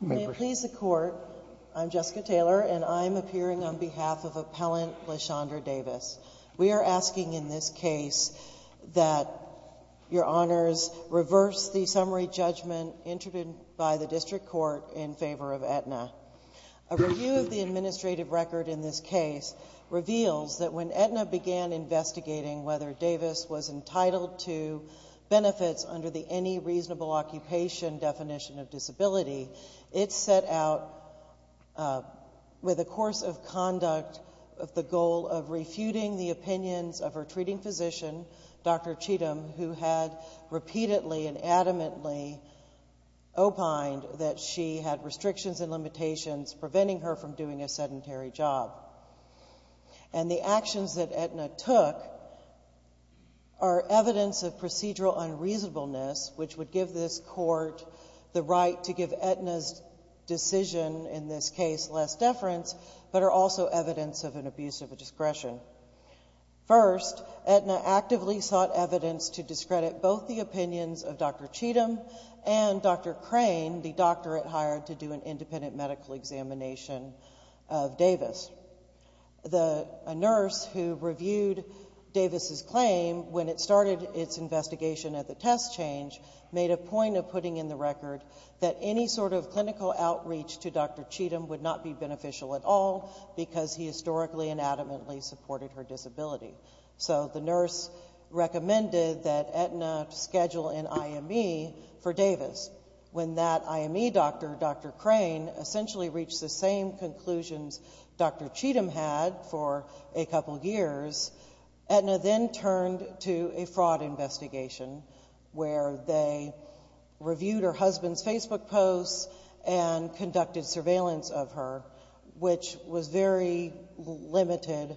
May it please the Court, I'm Jessica Taylor and I'm appearing on behalf of Appellant LaShondra Davis. We are asking in this case that your honors reverse the summary of the summary judgment introduced by the District Court in favor of Aetna. A review of the administrative record in this case reveals that when Aetna began investigating whether Davis was entitled to benefits under the Any Reasonable Occupation definition of disability, it set out with a course of conduct of the goal of refuting the opinions of her treating physician, Dr. Cheatham, who had repeatedly and adamantly opined that she had restrictions and limitations preventing her from doing a sedentary job. And the actions that Aetna took are evidence of procedural unreasonableness, which would give this court the right to give Aetna's decision in this case less deference, but are also evidence of an abuse of a discretion. First, Aetna actively sought evidence to discredit both the opinions of Dr. Cheatham and Dr. Crane, the doctor it hired to do an independent medical examination of Davis. A nurse who reviewed Davis's claim when it started its investigation of the test change made a point of putting in the record that any sort of clinical outreach to Dr. Cheatham would not be beneficial at all because he historically and adamantly supported her. So the nurse recommended that Aetna schedule an IME for Davis. When that IME doctor, Dr. Crane, essentially reached the same conclusions Dr. Cheatham had for a couple of years, Aetna then turned to a fraud investigation where they reviewed her husband's Facebook posts and conducted surveillance of her, which was very limited.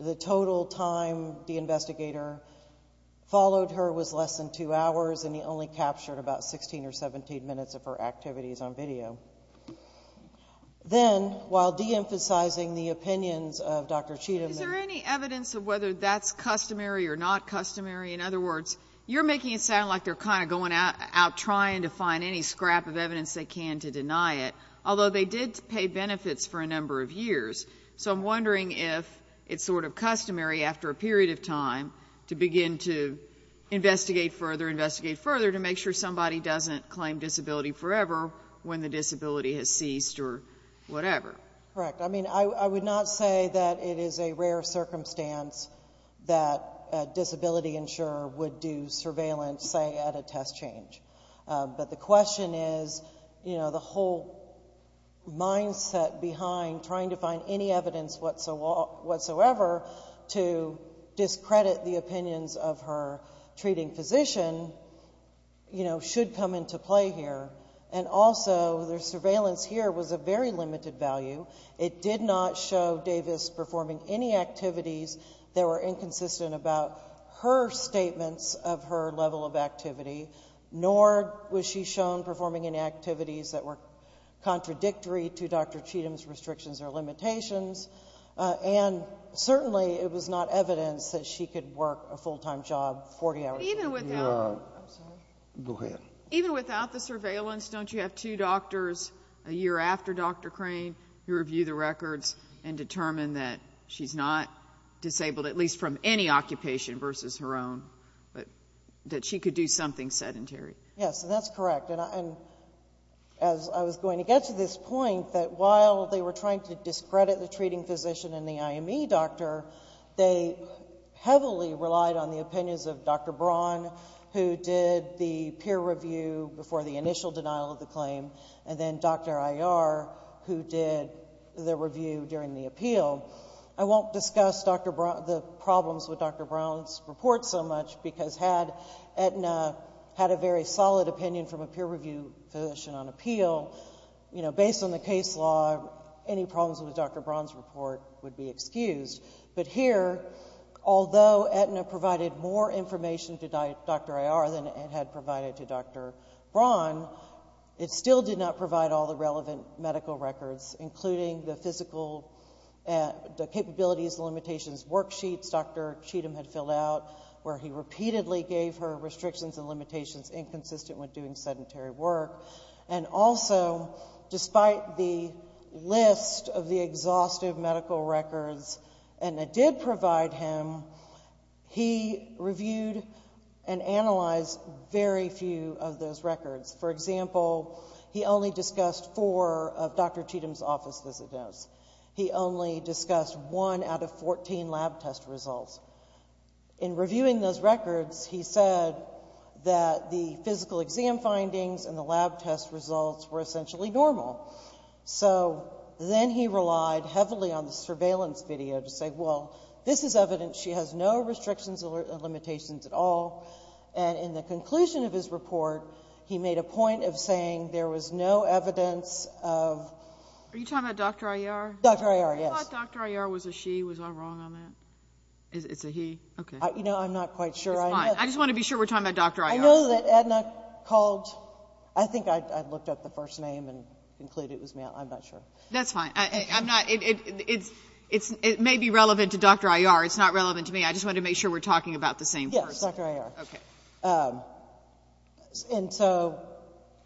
The total time the investigator followed her was less than two hours, and he only captured about 16 or 17 minutes of her activities on video. Then, while deemphasizing the opinions of Dr. Cheatham... It's sort of customary after a period of time to begin to investigate further, investigate further to make sure somebody doesn't claim disability forever when the disability has ceased or whatever. Correct. I mean, I would not say that it is a rare circumstance that a disability insurer would do surveillance, say, at a test change. But the question is, you know, the whole mindset behind trying to find any evidence whatsoever to discredit the opinions of her treating physician, you know, should come into play here. And also, their surveillance here was of very limited value. It did not show Davis performing any activities that were inconsistent about her statements of her level of activity, nor was she shown performing any activities that were contradictory to Dr. Cheatham's restrictions or limitations, and certainly it was not evidence that she could work a full-time job 40 hours a day. I'm sorry. Go ahead. Even without the surveillance, don't you have two doctors a year after Dr. Crane who review the records and determine that she's not disabled, at least from any occupation versus her own, that she could do something sedentary? Yes, and that's correct. And as I was going to get to this point, that while they were trying to discredit the treating physician and the IME doctor, they heavily relied on the opinions of Dr. Braun, who did the peer review before the initial denial of the claim, and then Dr. Iyer, who did the review during the appeal. I won't discuss the problems with Dr. Braun's report so much, because had Aetna had a very solid opinion from a peer review physician on appeal, you know, based on the case law, any problems with Dr. Braun's report would be excused. But here, although Aetna provided more information to Dr. Iyer than it had provided to Dr. Braun, it still did not provide all the relevant medical records, including the physical capabilities limitations worksheets Dr. Cheatham had filled out, where he repeatedly gave her restrictions and limitations inconsistent with doing sedentary work. And also, despite the list of the exhaustive medical records Aetna did provide him, he reviewed and analyzed very few of those records. For example, he only discussed four of Dr. Cheatham's office visit notes. He only discussed one out of 14 lab test results. In reviewing those records, he said that the physical exam findings and the lab test results were essentially normal. So then he relied heavily on the surveillance video to say, well, this is evidence she has no restrictions or limitations at all. And in the conclusion of his report, he made a point of saying there was no evidence of... Are you talking about Dr. Iyer? Dr. Iyer, yes. I thought Dr. Iyer was a she. Was I wrong on that? It's a he? Okay. You know, I'm not quite sure. It's fine. I just want to be sure we're talking about Dr. Iyer. I know that Aetna called... I think I looked up the first name and concluded it was male. I'm not sure. That's fine. I'm not... It may be relevant to Dr. Iyer. It's not relevant to me. I just wanted to make sure we're talking about the same person. Yes, Dr. Iyer. Okay. And so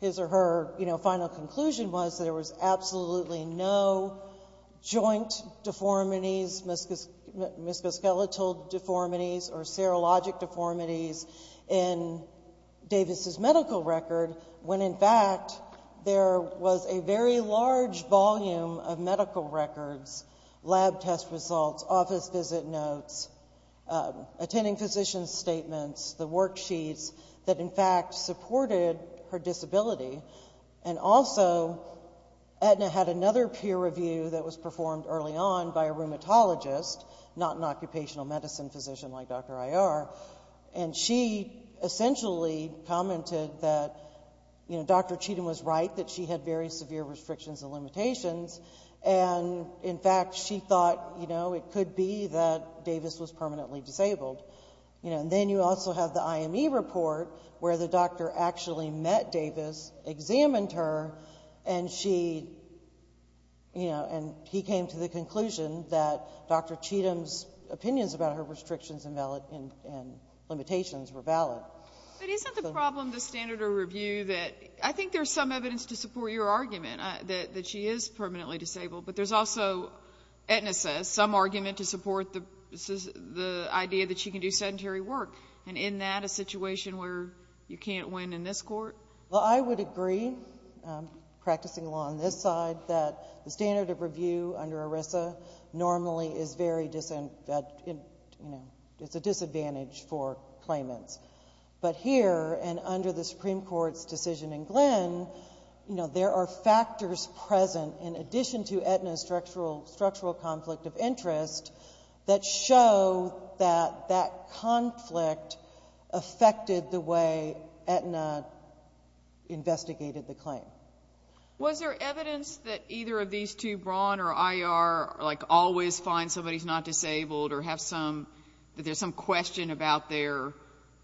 his or her, you know, final conclusion was there was absolutely no joint deformities, musculoskeletal deformities or serologic deformities in Davis's medical record, when in fact there was a very large volume of medical records, lab test results, office visit notes, attending physician's statements, the worksheets that in fact supported her disability. And also, Aetna had another peer review that was performed early on by a rheumatologist, not an occupational medicine physician like Dr. Iyer. And she essentially commented that, you know, Dr. Cheatham was right, that she had very severe restrictions and limitations. And in fact, she thought, you know, it could be that Davis was permanently disabled. You know, and then you also have the IME report where the doctor actually met Davis, examined her, and she, you know, and he came to the conclusion that Dr. Cheatham's opinions about her restrictions and limitations were valid. But isn't the problem the standard of review that I think there's some evidence to support your argument that she is permanently disabled, but there's also, Aetna says, some argument to support the idea that she can do sedentary work. And in that, a situation where you can't win in this court? Well, I would agree, practicing law on this side, that the standard of review under ERISA normally is very, you know, it's a disadvantage for claimants. But here, and under the Supreme Court's decision in Glenn, you know, there are factors present in addition to Aetna's structural conflict of interest that show that that conflict affected the way Aetna investigated the claim. Was there evidence that either of these two, Braun or IR, like, always find somebody's not disabled or have some, that there's some question about their,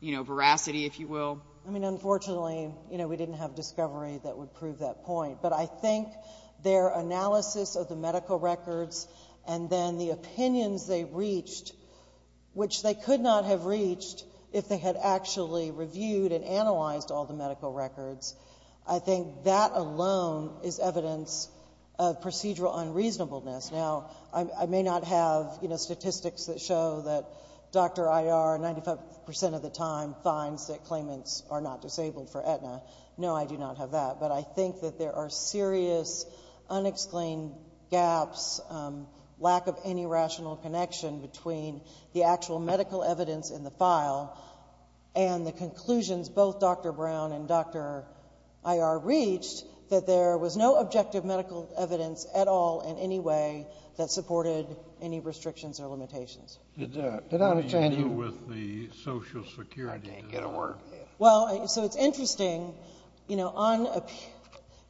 you know, veracity, if you will? I mean, unfortunately, you know, we didn't have discovery that would prove that point. But I think their analysis of the medical records and then the opinions they reached, which they could not have reached if they had actually reviewed and analyzed all the medical records, I think that alone is evidence of procedural unreasonableness. Now, I may not have, you know, statistics that show that Dr. IR, 95% of the time, finds that claimants are not disabled for Aetna. No, I do not have that. But I think that there are serious, unexplained gaps, lack of any rational connection between the actual medical evidence in the file and the conclusions both Dr. Braun and Dr. IR reached that there was no objective medical evidence at all in any way that supported any restrictions or limitations. What do you do with the Social Security? I can't get a word. Well, so it's interesting, you know,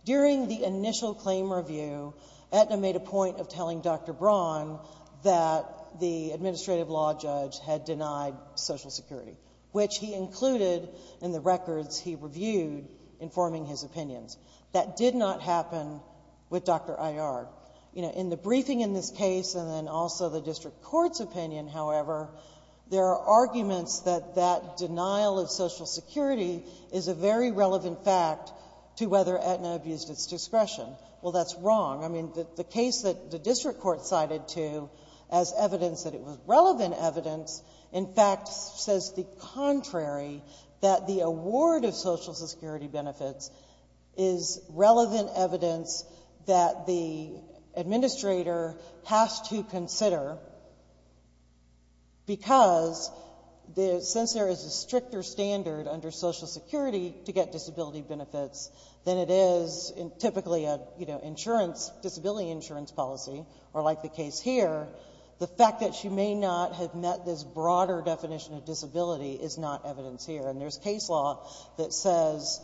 during the initial claim review, Aetna made a point of telling Dr. Braun that the administrative law judge had denied Social Security, which he included in the records he reviewed informing his opinions. That did not happen with Dr. IR. You know, in the briefing in this case and then also the district court's opinion, however, there are arguments that that denial of Social Security is a very relevant fact to whether Aetna abused its discretion. Well, that's wrong. I mean, the case that the district court cited to as evidence that it was relevant evidence, in fact, says the contrary, that the award of Social Security benefits is relevant evidence that the administrator has to consider because since there is a stricter standard under Social Security to get disability benefits than it is in typically a, you know, insurance, disability insurance policy or like the case here, the fact that she may not have met this broader definition of disability is not evidence here. And there's case law that says,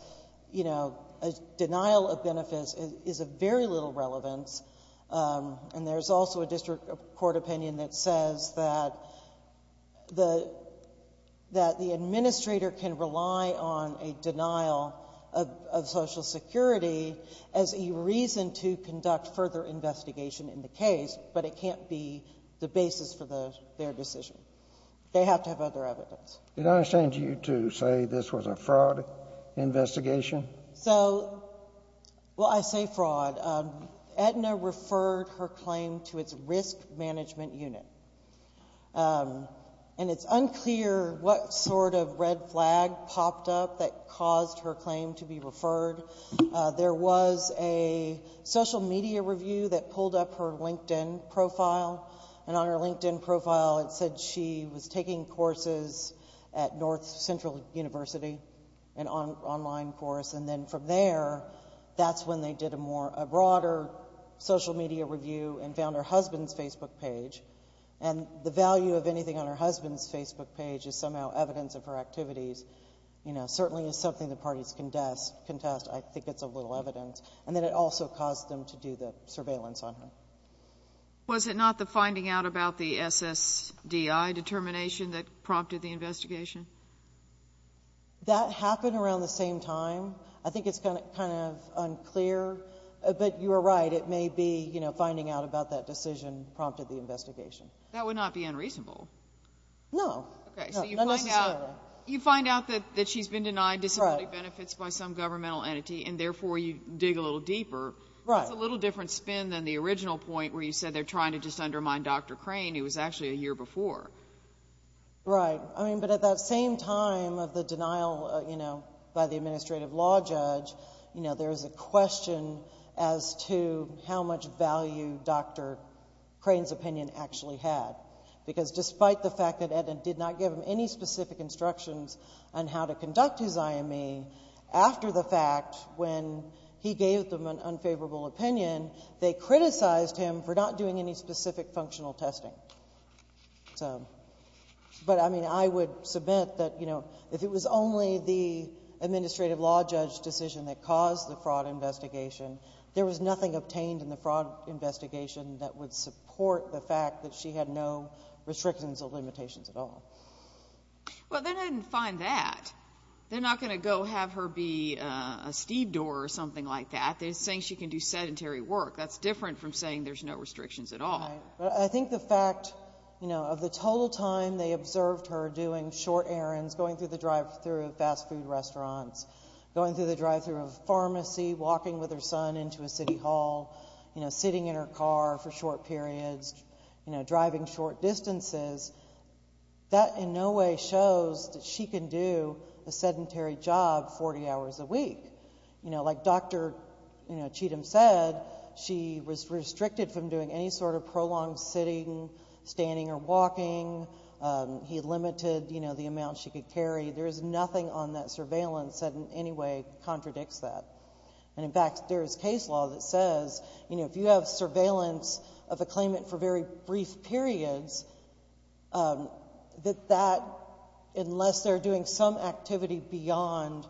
you know, a denial of benefits is of very little relevance, and there's also a district court opinion that says that the administrator can rely on a denial of Social Security as a reason to conduct further investigation in the case, but it can't be the basis for their decision. They have to have other evidence. Did I understand you to say this was a fraud investigation? So, well, I say fraud. Aetna referred her claim to its risk management unit, and it's unclear what sort of red flag popped up that caused her claim to be referred. There was a social media review that pulled up her LinkedIn profile, and on her LinkedIn profile it said she was taking courses at North Central University, an online course, and then from there, that's when they did a more, a broader social media review and found her husband's Facebook page. And the value of anything on her husband's Facebook page is somehow evidence of her activities, you know, certainly is something the parties contest. I think it's a little evidence. And then it also caused them to do the surveillance on her. Was it not the finding out about the SSDI determination that prompted the investigation? That happened around the same time. I think it's kind of unclear. But you are right, it may be, you know, finding out about that decision prompted the investigation. That would not be unreasonable. No, not necessarily. Okay, so you find out that she's been denied disability benefits by some governmental entity, and therefore you dig a little deeper. Right. That's a little different spin than the original point where you said they're trying to just undermine Dr. Crane. It was actually a year before. Right. I mean, but at that same time of the denial, you know, by the administrative law judge, you know, there's a question as to how much value Dr. Crane's opinion actually had. Because despite the fact that Ed did not give him any specific instructions on how to conduct his IME, after the fact, when he gave them an unfavorable opinion, they criticized him for not doing any specific functional testing. So, but I mean, I would submit that, you know, if it was only the administrative law judge's decision that caused the fraud investigation, there was nothing obtained in the fraud investigation that would support the fact that she had no restrictions or limitations at all. Well, then I didn't find that. They're not going to go have her be a stevedore or something like that. They're saying she can do sedentary work. That's different from saying there's no restrictions at all. Right. I think the fact, you know, of the total time they observed her doing short errands, going through the drive-thru of fast food restaurants, going through the drive-thru of a pharmacy, walking with her son into a city hall, you know, sitting in her car for short periods, you know, driving short distances, that in no way shows that she can do a sedentary job 40 hours a week. You know, like Dr. Cheatham said, she was restricted from doing any sort of prolonged sitting, standing or walking. He limited, you know, the amount she could carry. There is nothing on that surveillance that in any way contradicts that. And, in fact, there is case law that says, you know, if you have surveillance of a claimant for very brief periods, that that, unless they're doing some activity beyond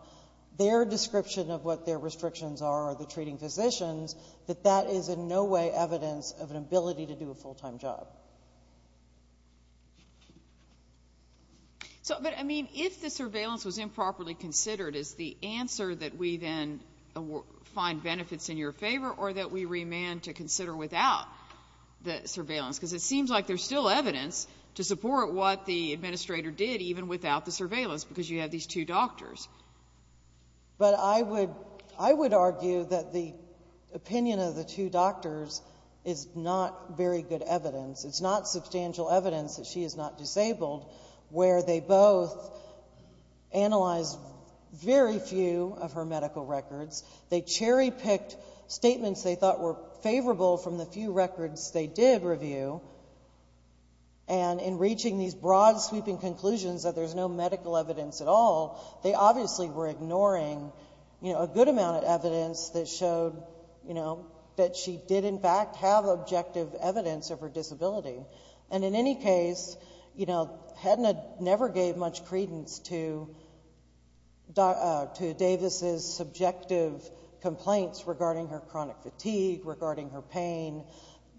their description of what their restrictions are or the treating physicians, that that is in no way evidence of an ability to do a full-time job. But, I mean, if the surveillance was improperly considered, is the answer that we then find benefits in your favor or that we remand to consider without the surveillance? Because it seems like there's still evidence to support what the administrator did, even without the surveillance, because you have these two doctors. But I would argue that the opinion of the two doctors is not very good evidence. It's not substantial evidence that she is not disabled, where they both analyzed very few of her medical records. They cherry-picked statements they thought were favorable from the few records they did review. And in reaching these broad, sweeping conclusions that there's no medical evidence at all, they obviously were ignoring, you know, a good amount of evidence that showed, you know, that she did, in fact, have objective evidence of her disability. And in any case, you know, HEDNA never gave much credence to Davis' subjective complaints regarding her chronic fatigue, regarding her pain.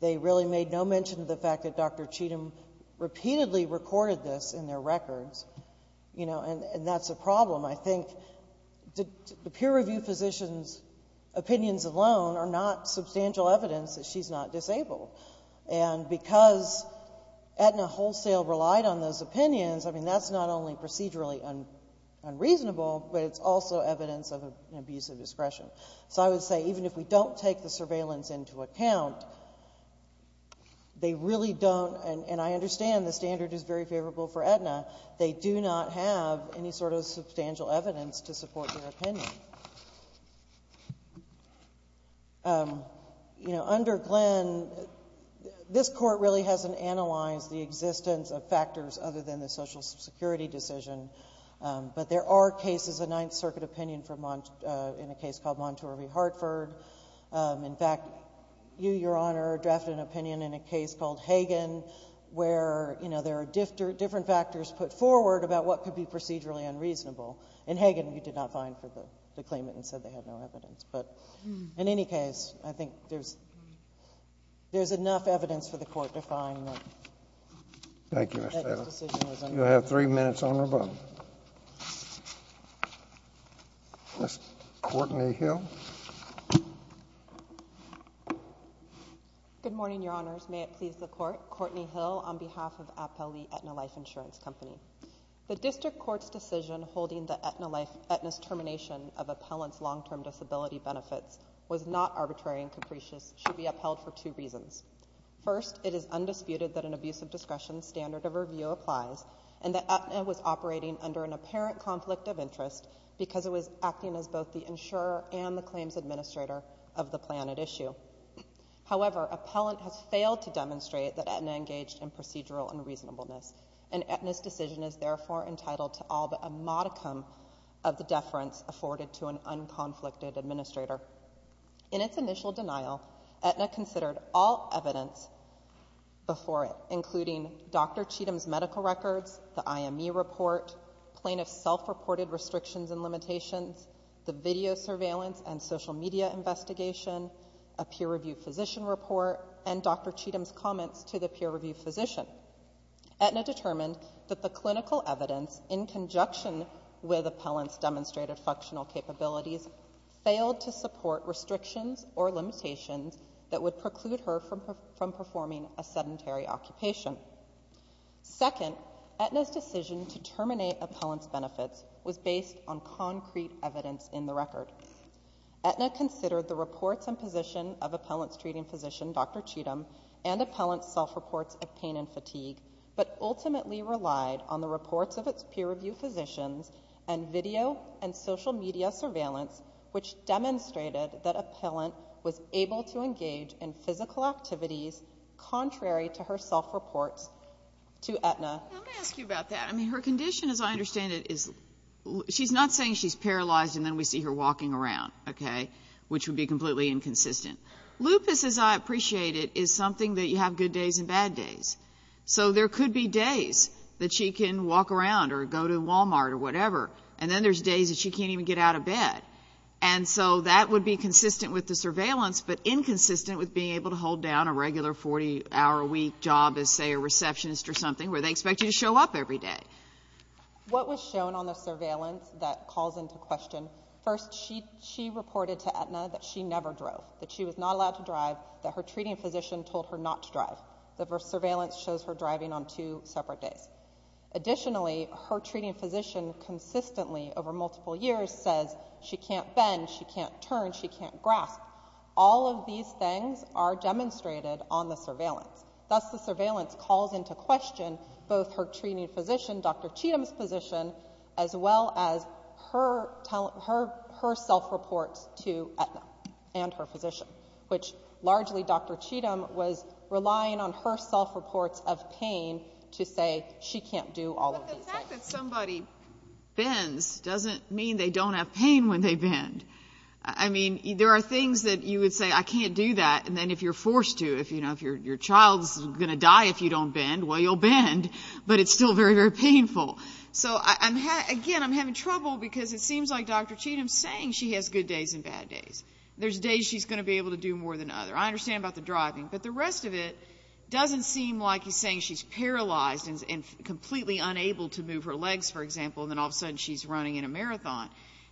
They really made no mention of the fact that Dr. Cheatham repeatedly recorded this in their records. You know, and that's a problem. I think the peer-reviewed physicians' opinions alone are not substantial evidence that she's not disabled. And because HEDNA wholesale relied on those opinions, I mean, that's not only procedurally unreasonable, but it's also evidence of an abuse of discretion. So I would say even if we don't take the surveillance into account, they really don't, and I understand the standard is very favorable for HEDNA, they do not have any sort of substantial evidence to support their opinion. You know, under Glenn, this Court really hasn't analyzed the existence of factors other than the Social Security decision, but there are cases of Ninth Circuit opinion in a case called Monture v. Hartford. In fact, you, Your Honor, drafted an opinion in a case called Hagan, where, you know, there are different factors put forward about what could be procedurally unreasonable. In Hagan, you did not find for the claimant and said they had no evidence. But in any case, I think there's enough evidence for the Court to find that this decision was unreasonable. Thank you, Ms. Taylor. You'll have three minutes on rebuttal. Ms. Courtney Hill. Good morning, Your Honors. May it please the Court. Courtney Hill on behalf of Appellee HEDNA Life Insurance Company. The District Court's decision holding that HEDNA's termination of appellant's long-term disability benefits was not arbitrary and capricious should be upheld for two reasons. First, it is undisputed that an abuse of discretion standard of review applies and that HEDNA was operating under an apparent conflict of interest because it was acting as both the insurer and the claims administrator of the plan at issue. However, appellant has failed to demonstrate that HEDNA engaged in procedural unreasonableness, and HEDNA's decision is therefore entitled to all but a modicum of the deference afforded to an unconflicted administrator. In its initial denial, HEDNA considered all evidence before it, including Dr. Cheatham's medical records, the IME report, plaintiff's self-reported restrictions and limitations, the video surveillance and social media investigation, a peer-reviewed physician report, and Dr. Cheatham's comments to the peer-reviewed physician. HEDNA determined that the clinical evidence in conjunction with appellant's demonstrated functional capabilities failed to support restrictions or limitations that would preclude her from performing a sedentary occupation. Second, HEDNA's decision to terminate appellant's benefits was based on concrete evidence in the record. HEDNA considered the reports and position of appellant's treating physician, Dr. Cheatham, and appellant's self-reports of pain and fatigue, but ultimately relied on the reports of its peer-reviewed physicians and video and social media surveillance, which demonstrated that appellant was able to engage in physical activities contrary to her self-reports to HEDNA. Let me ask you about that. I mean, her condition, as I understand it, she's not saying she's paralyzed, and then we see her walking around, okay, which would be completely inconsistent. Lupus, as I appreciate it, is something that you have good days and bad days. So there could be days that she can walk around or go to Walmart or whatever, and then there's days that she can't even get out of bed. And so that would be consistent with the surveillance, but inconsistent with being able to hold down a regular 40-hour-a-week job as, say, a receptionist or something where they expect you to show up every day. What was shown on the surveillance that calls into question, first, she reported to HEDNA that she never drove, that she was not allowed to drive, that her treating physician told her not to drive. The surveillance shows her driving on two separate days. Additionally, her treating physician consistently over multiple years says she can't bend, she can't turn, she can't grasp. All of these things are demonstrated on the surveillance. Thus, the surveillance calls into question both her treating physician, Dr. Cheatham's physician, as well as her self-reports to HEDNA and her physician, which largely Dr. Cheatham was relying on her self-reports of pain to say she can't do all of these things. But the fact that somebody bends doesn't mean they don't have pain when they bend. I mean, there are things that you would say, I can't do that, and then if you're forced to, if your child's going to die if you don't bend, well, you'll bend, but it's still very, very painful. So, again, I'm having trouble because it seems like Dr. Cheatham's saying she has good days and bad days. There's days she's going to be able to do more than other. I understand about the driving, but the rest of it doesn't seem like he's saying she's paralyzed and completely unable to move her legs, for example, and then all of a sudden she's running in a marathon.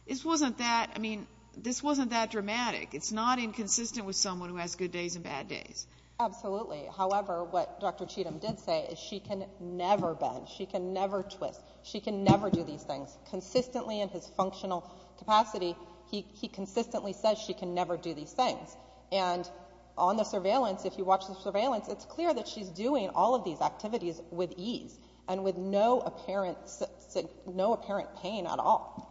This wasn't that, I mean, this wasn't that dramatic. It's not inconsistent with someone who has good days and bad days. Absolutely. However, what Dr. Cheatham did say is she can never bend. She can never twist. She can never do these things. Consistently in his functional capacity, he consistently says she can never do these things. And on the surveillance, if you watch the surveillance, it's clear that she's doing all of these activities with ease and with no apparent pain at all.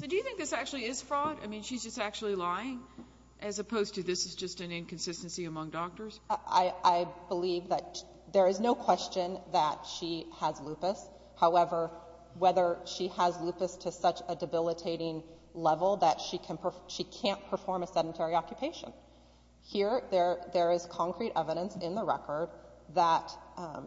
So do you think this actually is fraud? I mean, she's just actually lying as opposed to this is just an inconsistency among doctors? I believe that there is no question that she has lupus. However, whether she has lupus to such a debilitating level that she can't perform a sedentary occupation. Here, there is concrete evidence in the record that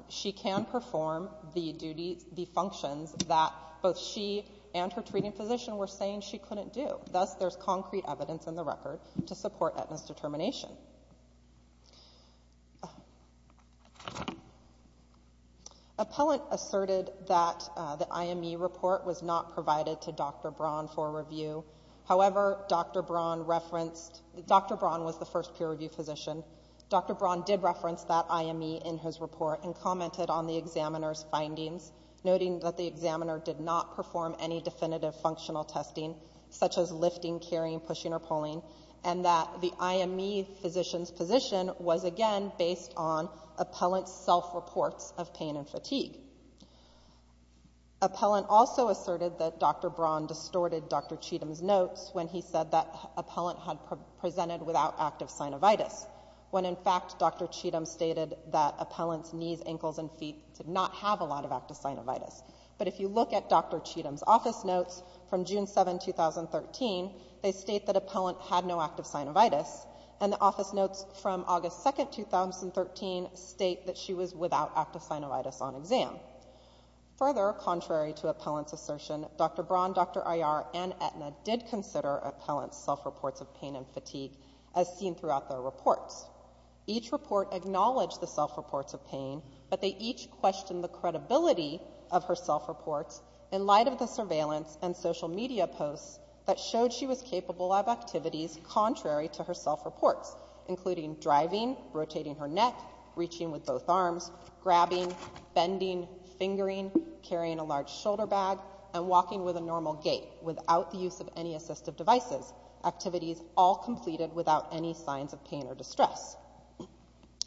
she can perform the duties, the functions that both she and her treating physician were saying she couldn't do. Thus, there's concrete evidence in the record to support that misdetermination. Appellant asserted that the IME report was not provided to Dr. Braun for review. However, Dr. Braun was the first peer review physician. Dr. Braun did reference that IME in his report and commented on the examiner's findings, noting that the examiner did not perform any definitive functional testing, such as lifting, carrying, pushing, or pulling, and that the IME physician's position was, again, based on appellant's self-reports of pain and fatigue. Appellant also asserted that Dr. Braun distorted Dr. Cheatham's notes when he said that appellant had presented without active synovitis, when, in fact, Dr. Cheatham stated that appellant's knees, ankles, and feet did not have a lot of active synovitis. But if you look at Dr. Cheatham's office notes from June 7, 2013, they state that appellant had no active synovitis, and the office notes from August 2, 2013 state that she was without active synovitis on exam. Further, contrary to appellant's assertion, Dr. Braun, Dr. Iyer, and Aetna did consider appellant's self-reports of pain and fatigue as seen throughout their reports. Each report acknowledged the self-reports of pain, but they each questioned the credibility of her self-reports in light of the surveillance and social media posts that showed she was capable of activities contrary to her self-reports, including driving, rotating her neck, reaching with both arms, grabbing, bending, fingering, carrying a large shoulder bag, and walking with a normal gait without the use of any assistive devices, activities all completed without any signs of pain or distress.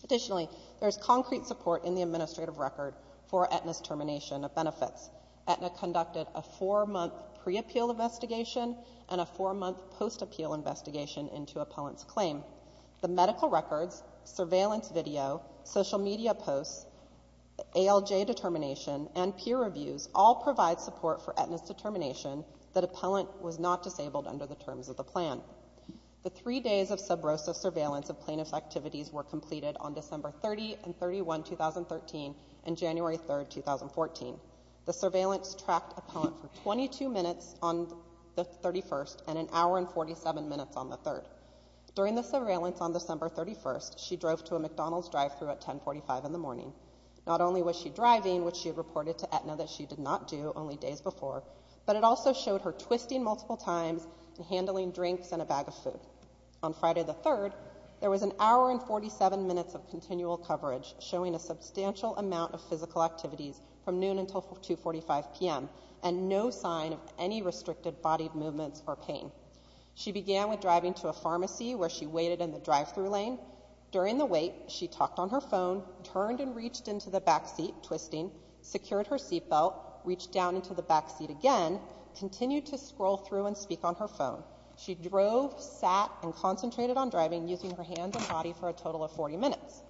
Additionally, there is concrete support in the administrative record for Aetna's termination of benefits. Aetna conducted a four-month pre-appeal investigation and a four-month post-appeal investigation into appellant's claim. The medical records, surveillance video, social media posts, ALJ determination, and peer reviews all provide support for Aetna's determination that appellant was not disabled under the terms of the plan. The three days of subrosis surveillance of plaintiff's activities were completed on December 30 and 31, 2013, and January 3, 2014. The surveillance tracked appellant for 22 minutes on the 31st and an hour and 47 minutes on the 3rd. During the surveillance on December 31, she drove to a McDonald's drive-thru at 10.45 in the morning. Not only was she driving, which she had reported to Aetna that she did not do only days before, but it also showed her twisting multiple times and handling drinks and a bag of food. On Friday the 3rd, there was an hour and 47 minutes of continual coverage showing a substantial amount of physical activities from noon until 2.45 p.m., and no sign of any restricted body movements or pain. She began with driving to a pharmacy where she waited in the drive-thru lane. During the wait, she talked on her phone, turned and reached into the back seat, twisting, secured her seatbelt, reached down into the back seat again, continued to scroll through and speak on her phone. She drove, sat, and concentrated on driving using her hands and body for a total of 40 minutes.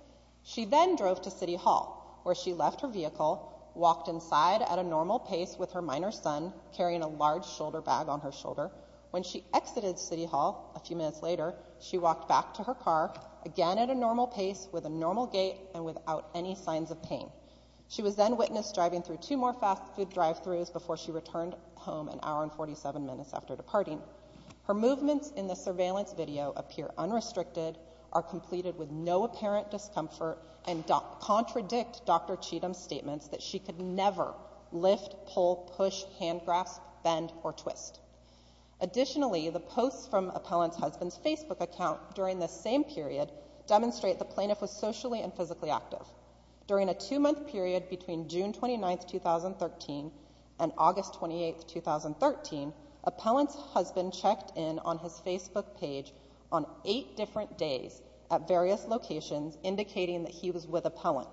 She then drove to City Hall, where she left her vehicle, walked inside at a normal pace with her minor son, carrying a large shoulder bag on her shoulder. When she exited City Hall a few minutes later, she walked back to her car, again at a normal pace, with a normal gait, and without any signs of pain. She was then witnessed driving through two more fast food drive-thrus before she returned home an hour and 47 minutes after departing. Her movements in the surveillance video appear unrestricted, are completed with no apparent discomfort, and contradict Dr. Cheatham's statements that she could never lift, pull, push, hand-grasp, bend, or twist. Additionally, the posts from Appellant's husband's Facebook account during this same period demonstrate the plaintiff was socially and physically active. During a two-month period between June 29, 2013 and August 28, 2013, Appellant's husband checked in on his Facebook page on eight different days at various locations, indicating that he was with Appellant.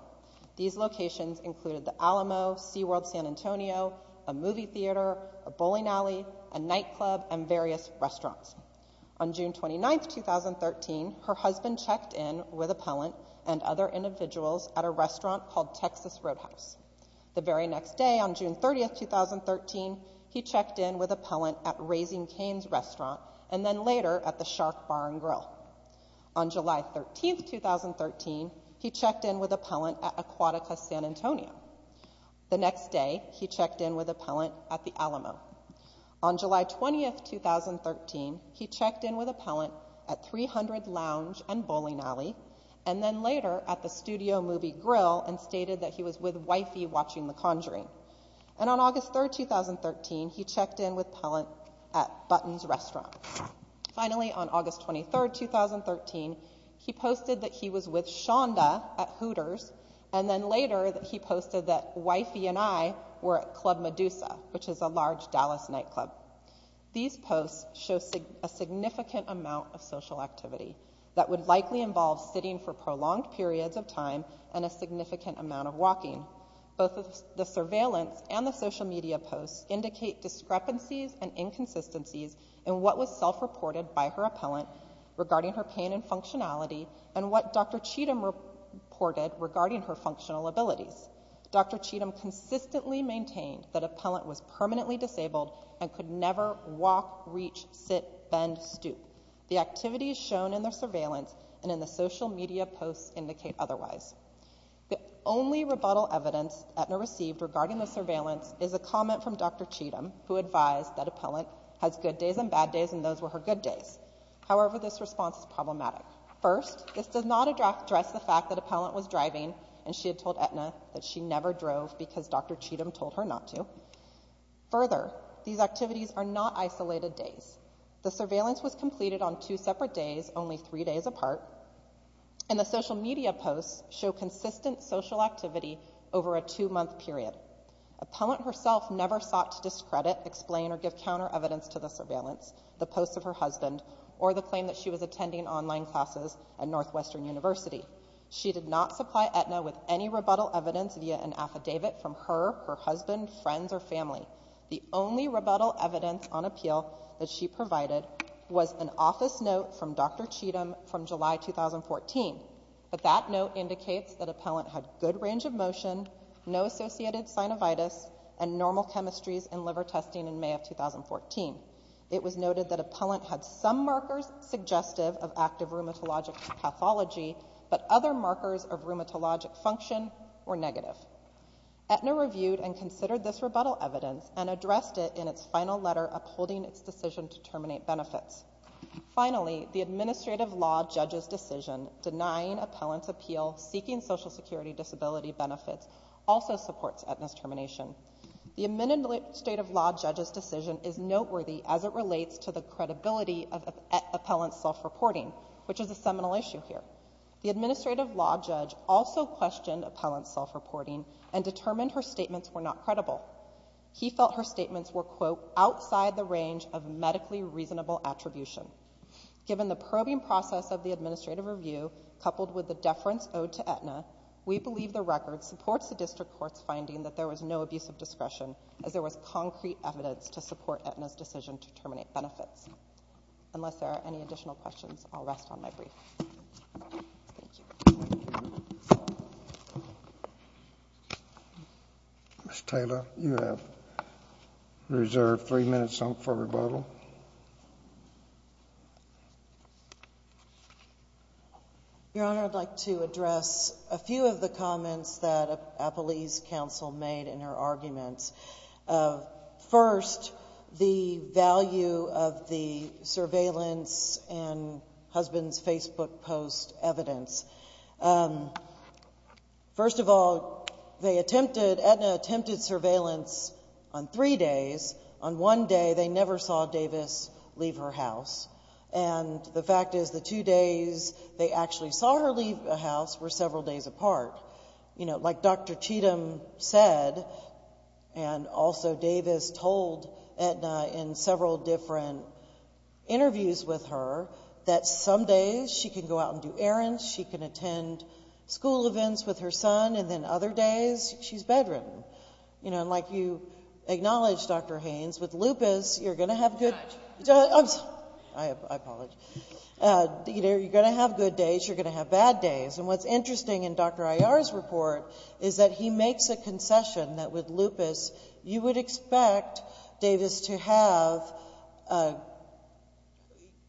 These locations included the Alamo, SeaWorld San Antonio, a movie theater, a bowling alley, a nightclub, and various restaurants. On June 29, 2013, her husband checked in with Appellant and other individuals at a restaurant called Texas Roadhouse. The very next day, on June 30, 2013, he checked in with Appellant at Raising Cane's restaurant, and then later at the Shark Bar and Grill. On July 13, 2013, he checked in with Appellant at Aquatica San Antonio. The next day, he checked in with Appellant at the Alamo. On July 20, 2013, he checked in with Appellant at 300 Lounge and Bowling Alley, and then later at the Studio Movie Grill and stated that he was with wifey watching The Conjuring. And on August 3, 2013, he checked in with Appellant at Button's restaurant. Finally, on August 23, 2013, he posted that he was with Shonda at Hooters, and then later he posted that wifey and I were at Club Medusa, which is a large Dallas nightclub. These posts show a significant amount of social activity that would likely involve sitting for prolonged periods of time and a significant amount of walking. Both the surveillance and the social media posts indicate discrepancies and inconsistencies in what was self-reported by her appellant regarding her pain and functionality and what Dr. Cheatham reported regarding her functional abilities. Dr. Cheatham consistently maintained that Appellant was permanently disabled and could never walk, reach, sit, bend, stoop. The activities shown in their surveillance and in the social media posts indicate otherwise. The only rebuttal evidence Aetna received regarding the surveillance is a comment from Dr. Cheatham, who advised that Appellant has good days and bad days, and those were her good days. However, this response is problematic. First, this does not address the fact that Appellant was driving and she had told Aetna that she never drove because Dr. Cheatham told her not to. Further, these activities are not isolated days. The surveillance was completed on two separate days, only three days apart, and the social media posts show consistent social activity over a two-month period. Appellant herself never sought to discredit, explain, or give counter-evidence to the surveillance, the posts of her husband, or the claim that she was attending online classes at Northwestern University. She did not supply Aetna with any rebuttal evidence via an affidavit from her, her husband, friends, or family. The only rebuttal evidence on appeal that she provided was an office note from Dr. Cheatham from July 2014, but that note indicates that Appellant had good range of motion, no associated synovitis, and normal chemistries in liver testing in May of 2014. It was noted that Appellant had some markers suggestive of active rheumatologic pathology, but other markers of rheumatologic function were negative. Aetna reviewed and considered this rebuttal evidence and addressed it in its final letter upholding its decision to terminate benefits. Finally, the administrative law judge's decision denying Appellant's appeal seeking Social Security disability benefits also supports Aetna's termination. The administrative law judge's decision is noteworthy as it relates to the credibility of Appellant's self-reporting, which is a seminal issue here. The administrative law judge also questioned Appellant's self-reporting and determined her statements were not credible. He felt her statements were, quote, outside the range of medically reasonable attribution. Given the probing process of the administrative review coupled with the deference owed to Aetna, we believe the record supports the district court's finding that there was no abuse of discretion as there was concrete evidence to support Aetna's decision to terminate benefits. Unless there are any additional questions, I'll rest on my brief. Thank you. Ms. Taylor, you have reserved three minutes for rebuttal. Your Honor, I'd like to address a few of the comments that Appellee's counsel made in her arguments. First, the value of the surveillance and husband's Facebook post evidence. First of all, Aetna attempted surveillance on three days. On one day, they never saw Davis leave her house, and the fact is the two days they actually saw her leave the house were several days apart. Like Dr. Cheatham said, and also Davis told Aetna in several different interviews with her, that some days she can go out and do errands, she can attend school events with her son, and then other days she's bedridden. And like you acknowledged, Dr. Haynes, with lupus you're going to have good days, you're going to have bad days. And what's interesting in Dr. Iyer's report is that he makes a concession that with lupus you would expect Davis to have,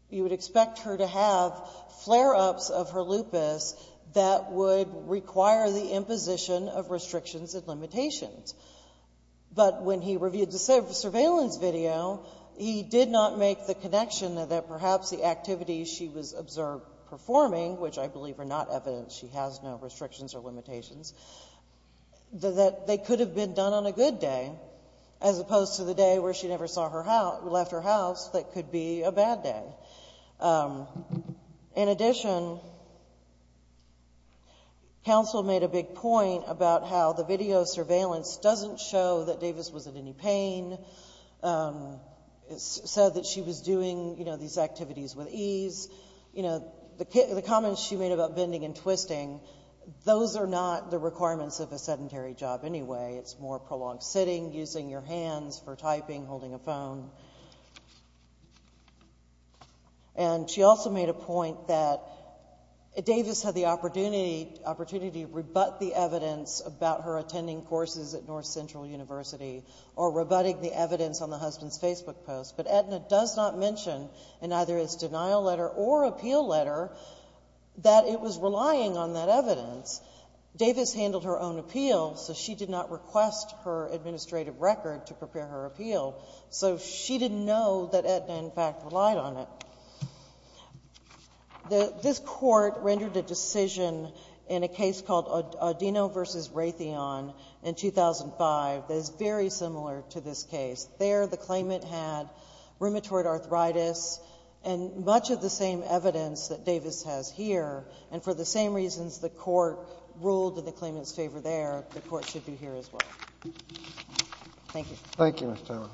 you would expect her to have flare-ups of her lupus that would require the imposition of restrictions and limitations. But when he reviewed the surveillance video, he did not make the connection that perhaps the activities she was observed performing, which I believe are not evidence she has no restrictions or limitations, that they could have been done on a good day as opposed to the day where she never left her house that could be a bad day. In addition, counsel made a big point about how the video surveillance doesn't show that Davis was in any pain. It said that she was doing these activities with ease. The comments she made about bending and twisting, those are not the requirements of a sedentary job anyway. It's more prolonged sitting, using your hands for typing, holding a phone. And she also made a point that Davis had the opportunity to rebut the evidence about her attending courses at North Central University or rebutting the evidence on the husband's Facebook post, but Aetna does not mention in either its denial letter or appeal letter that it was relying on that evidence. Davis handled her own appeal, so she did not request her administrative record to prepare her appeal. So she didn't know that Aetna, in fact, relied on it. This Court rendered a decision in a case called Odino v. Raytheon in 2005 that is very similar to this case. There the claimant had rheumatoid arthritis and much of the same evidence that Davis has here, and for the same reasons the Court ruled in the claimant's favor there, the Court should be here as well. Thank you. Thank you, Ms. Taylor.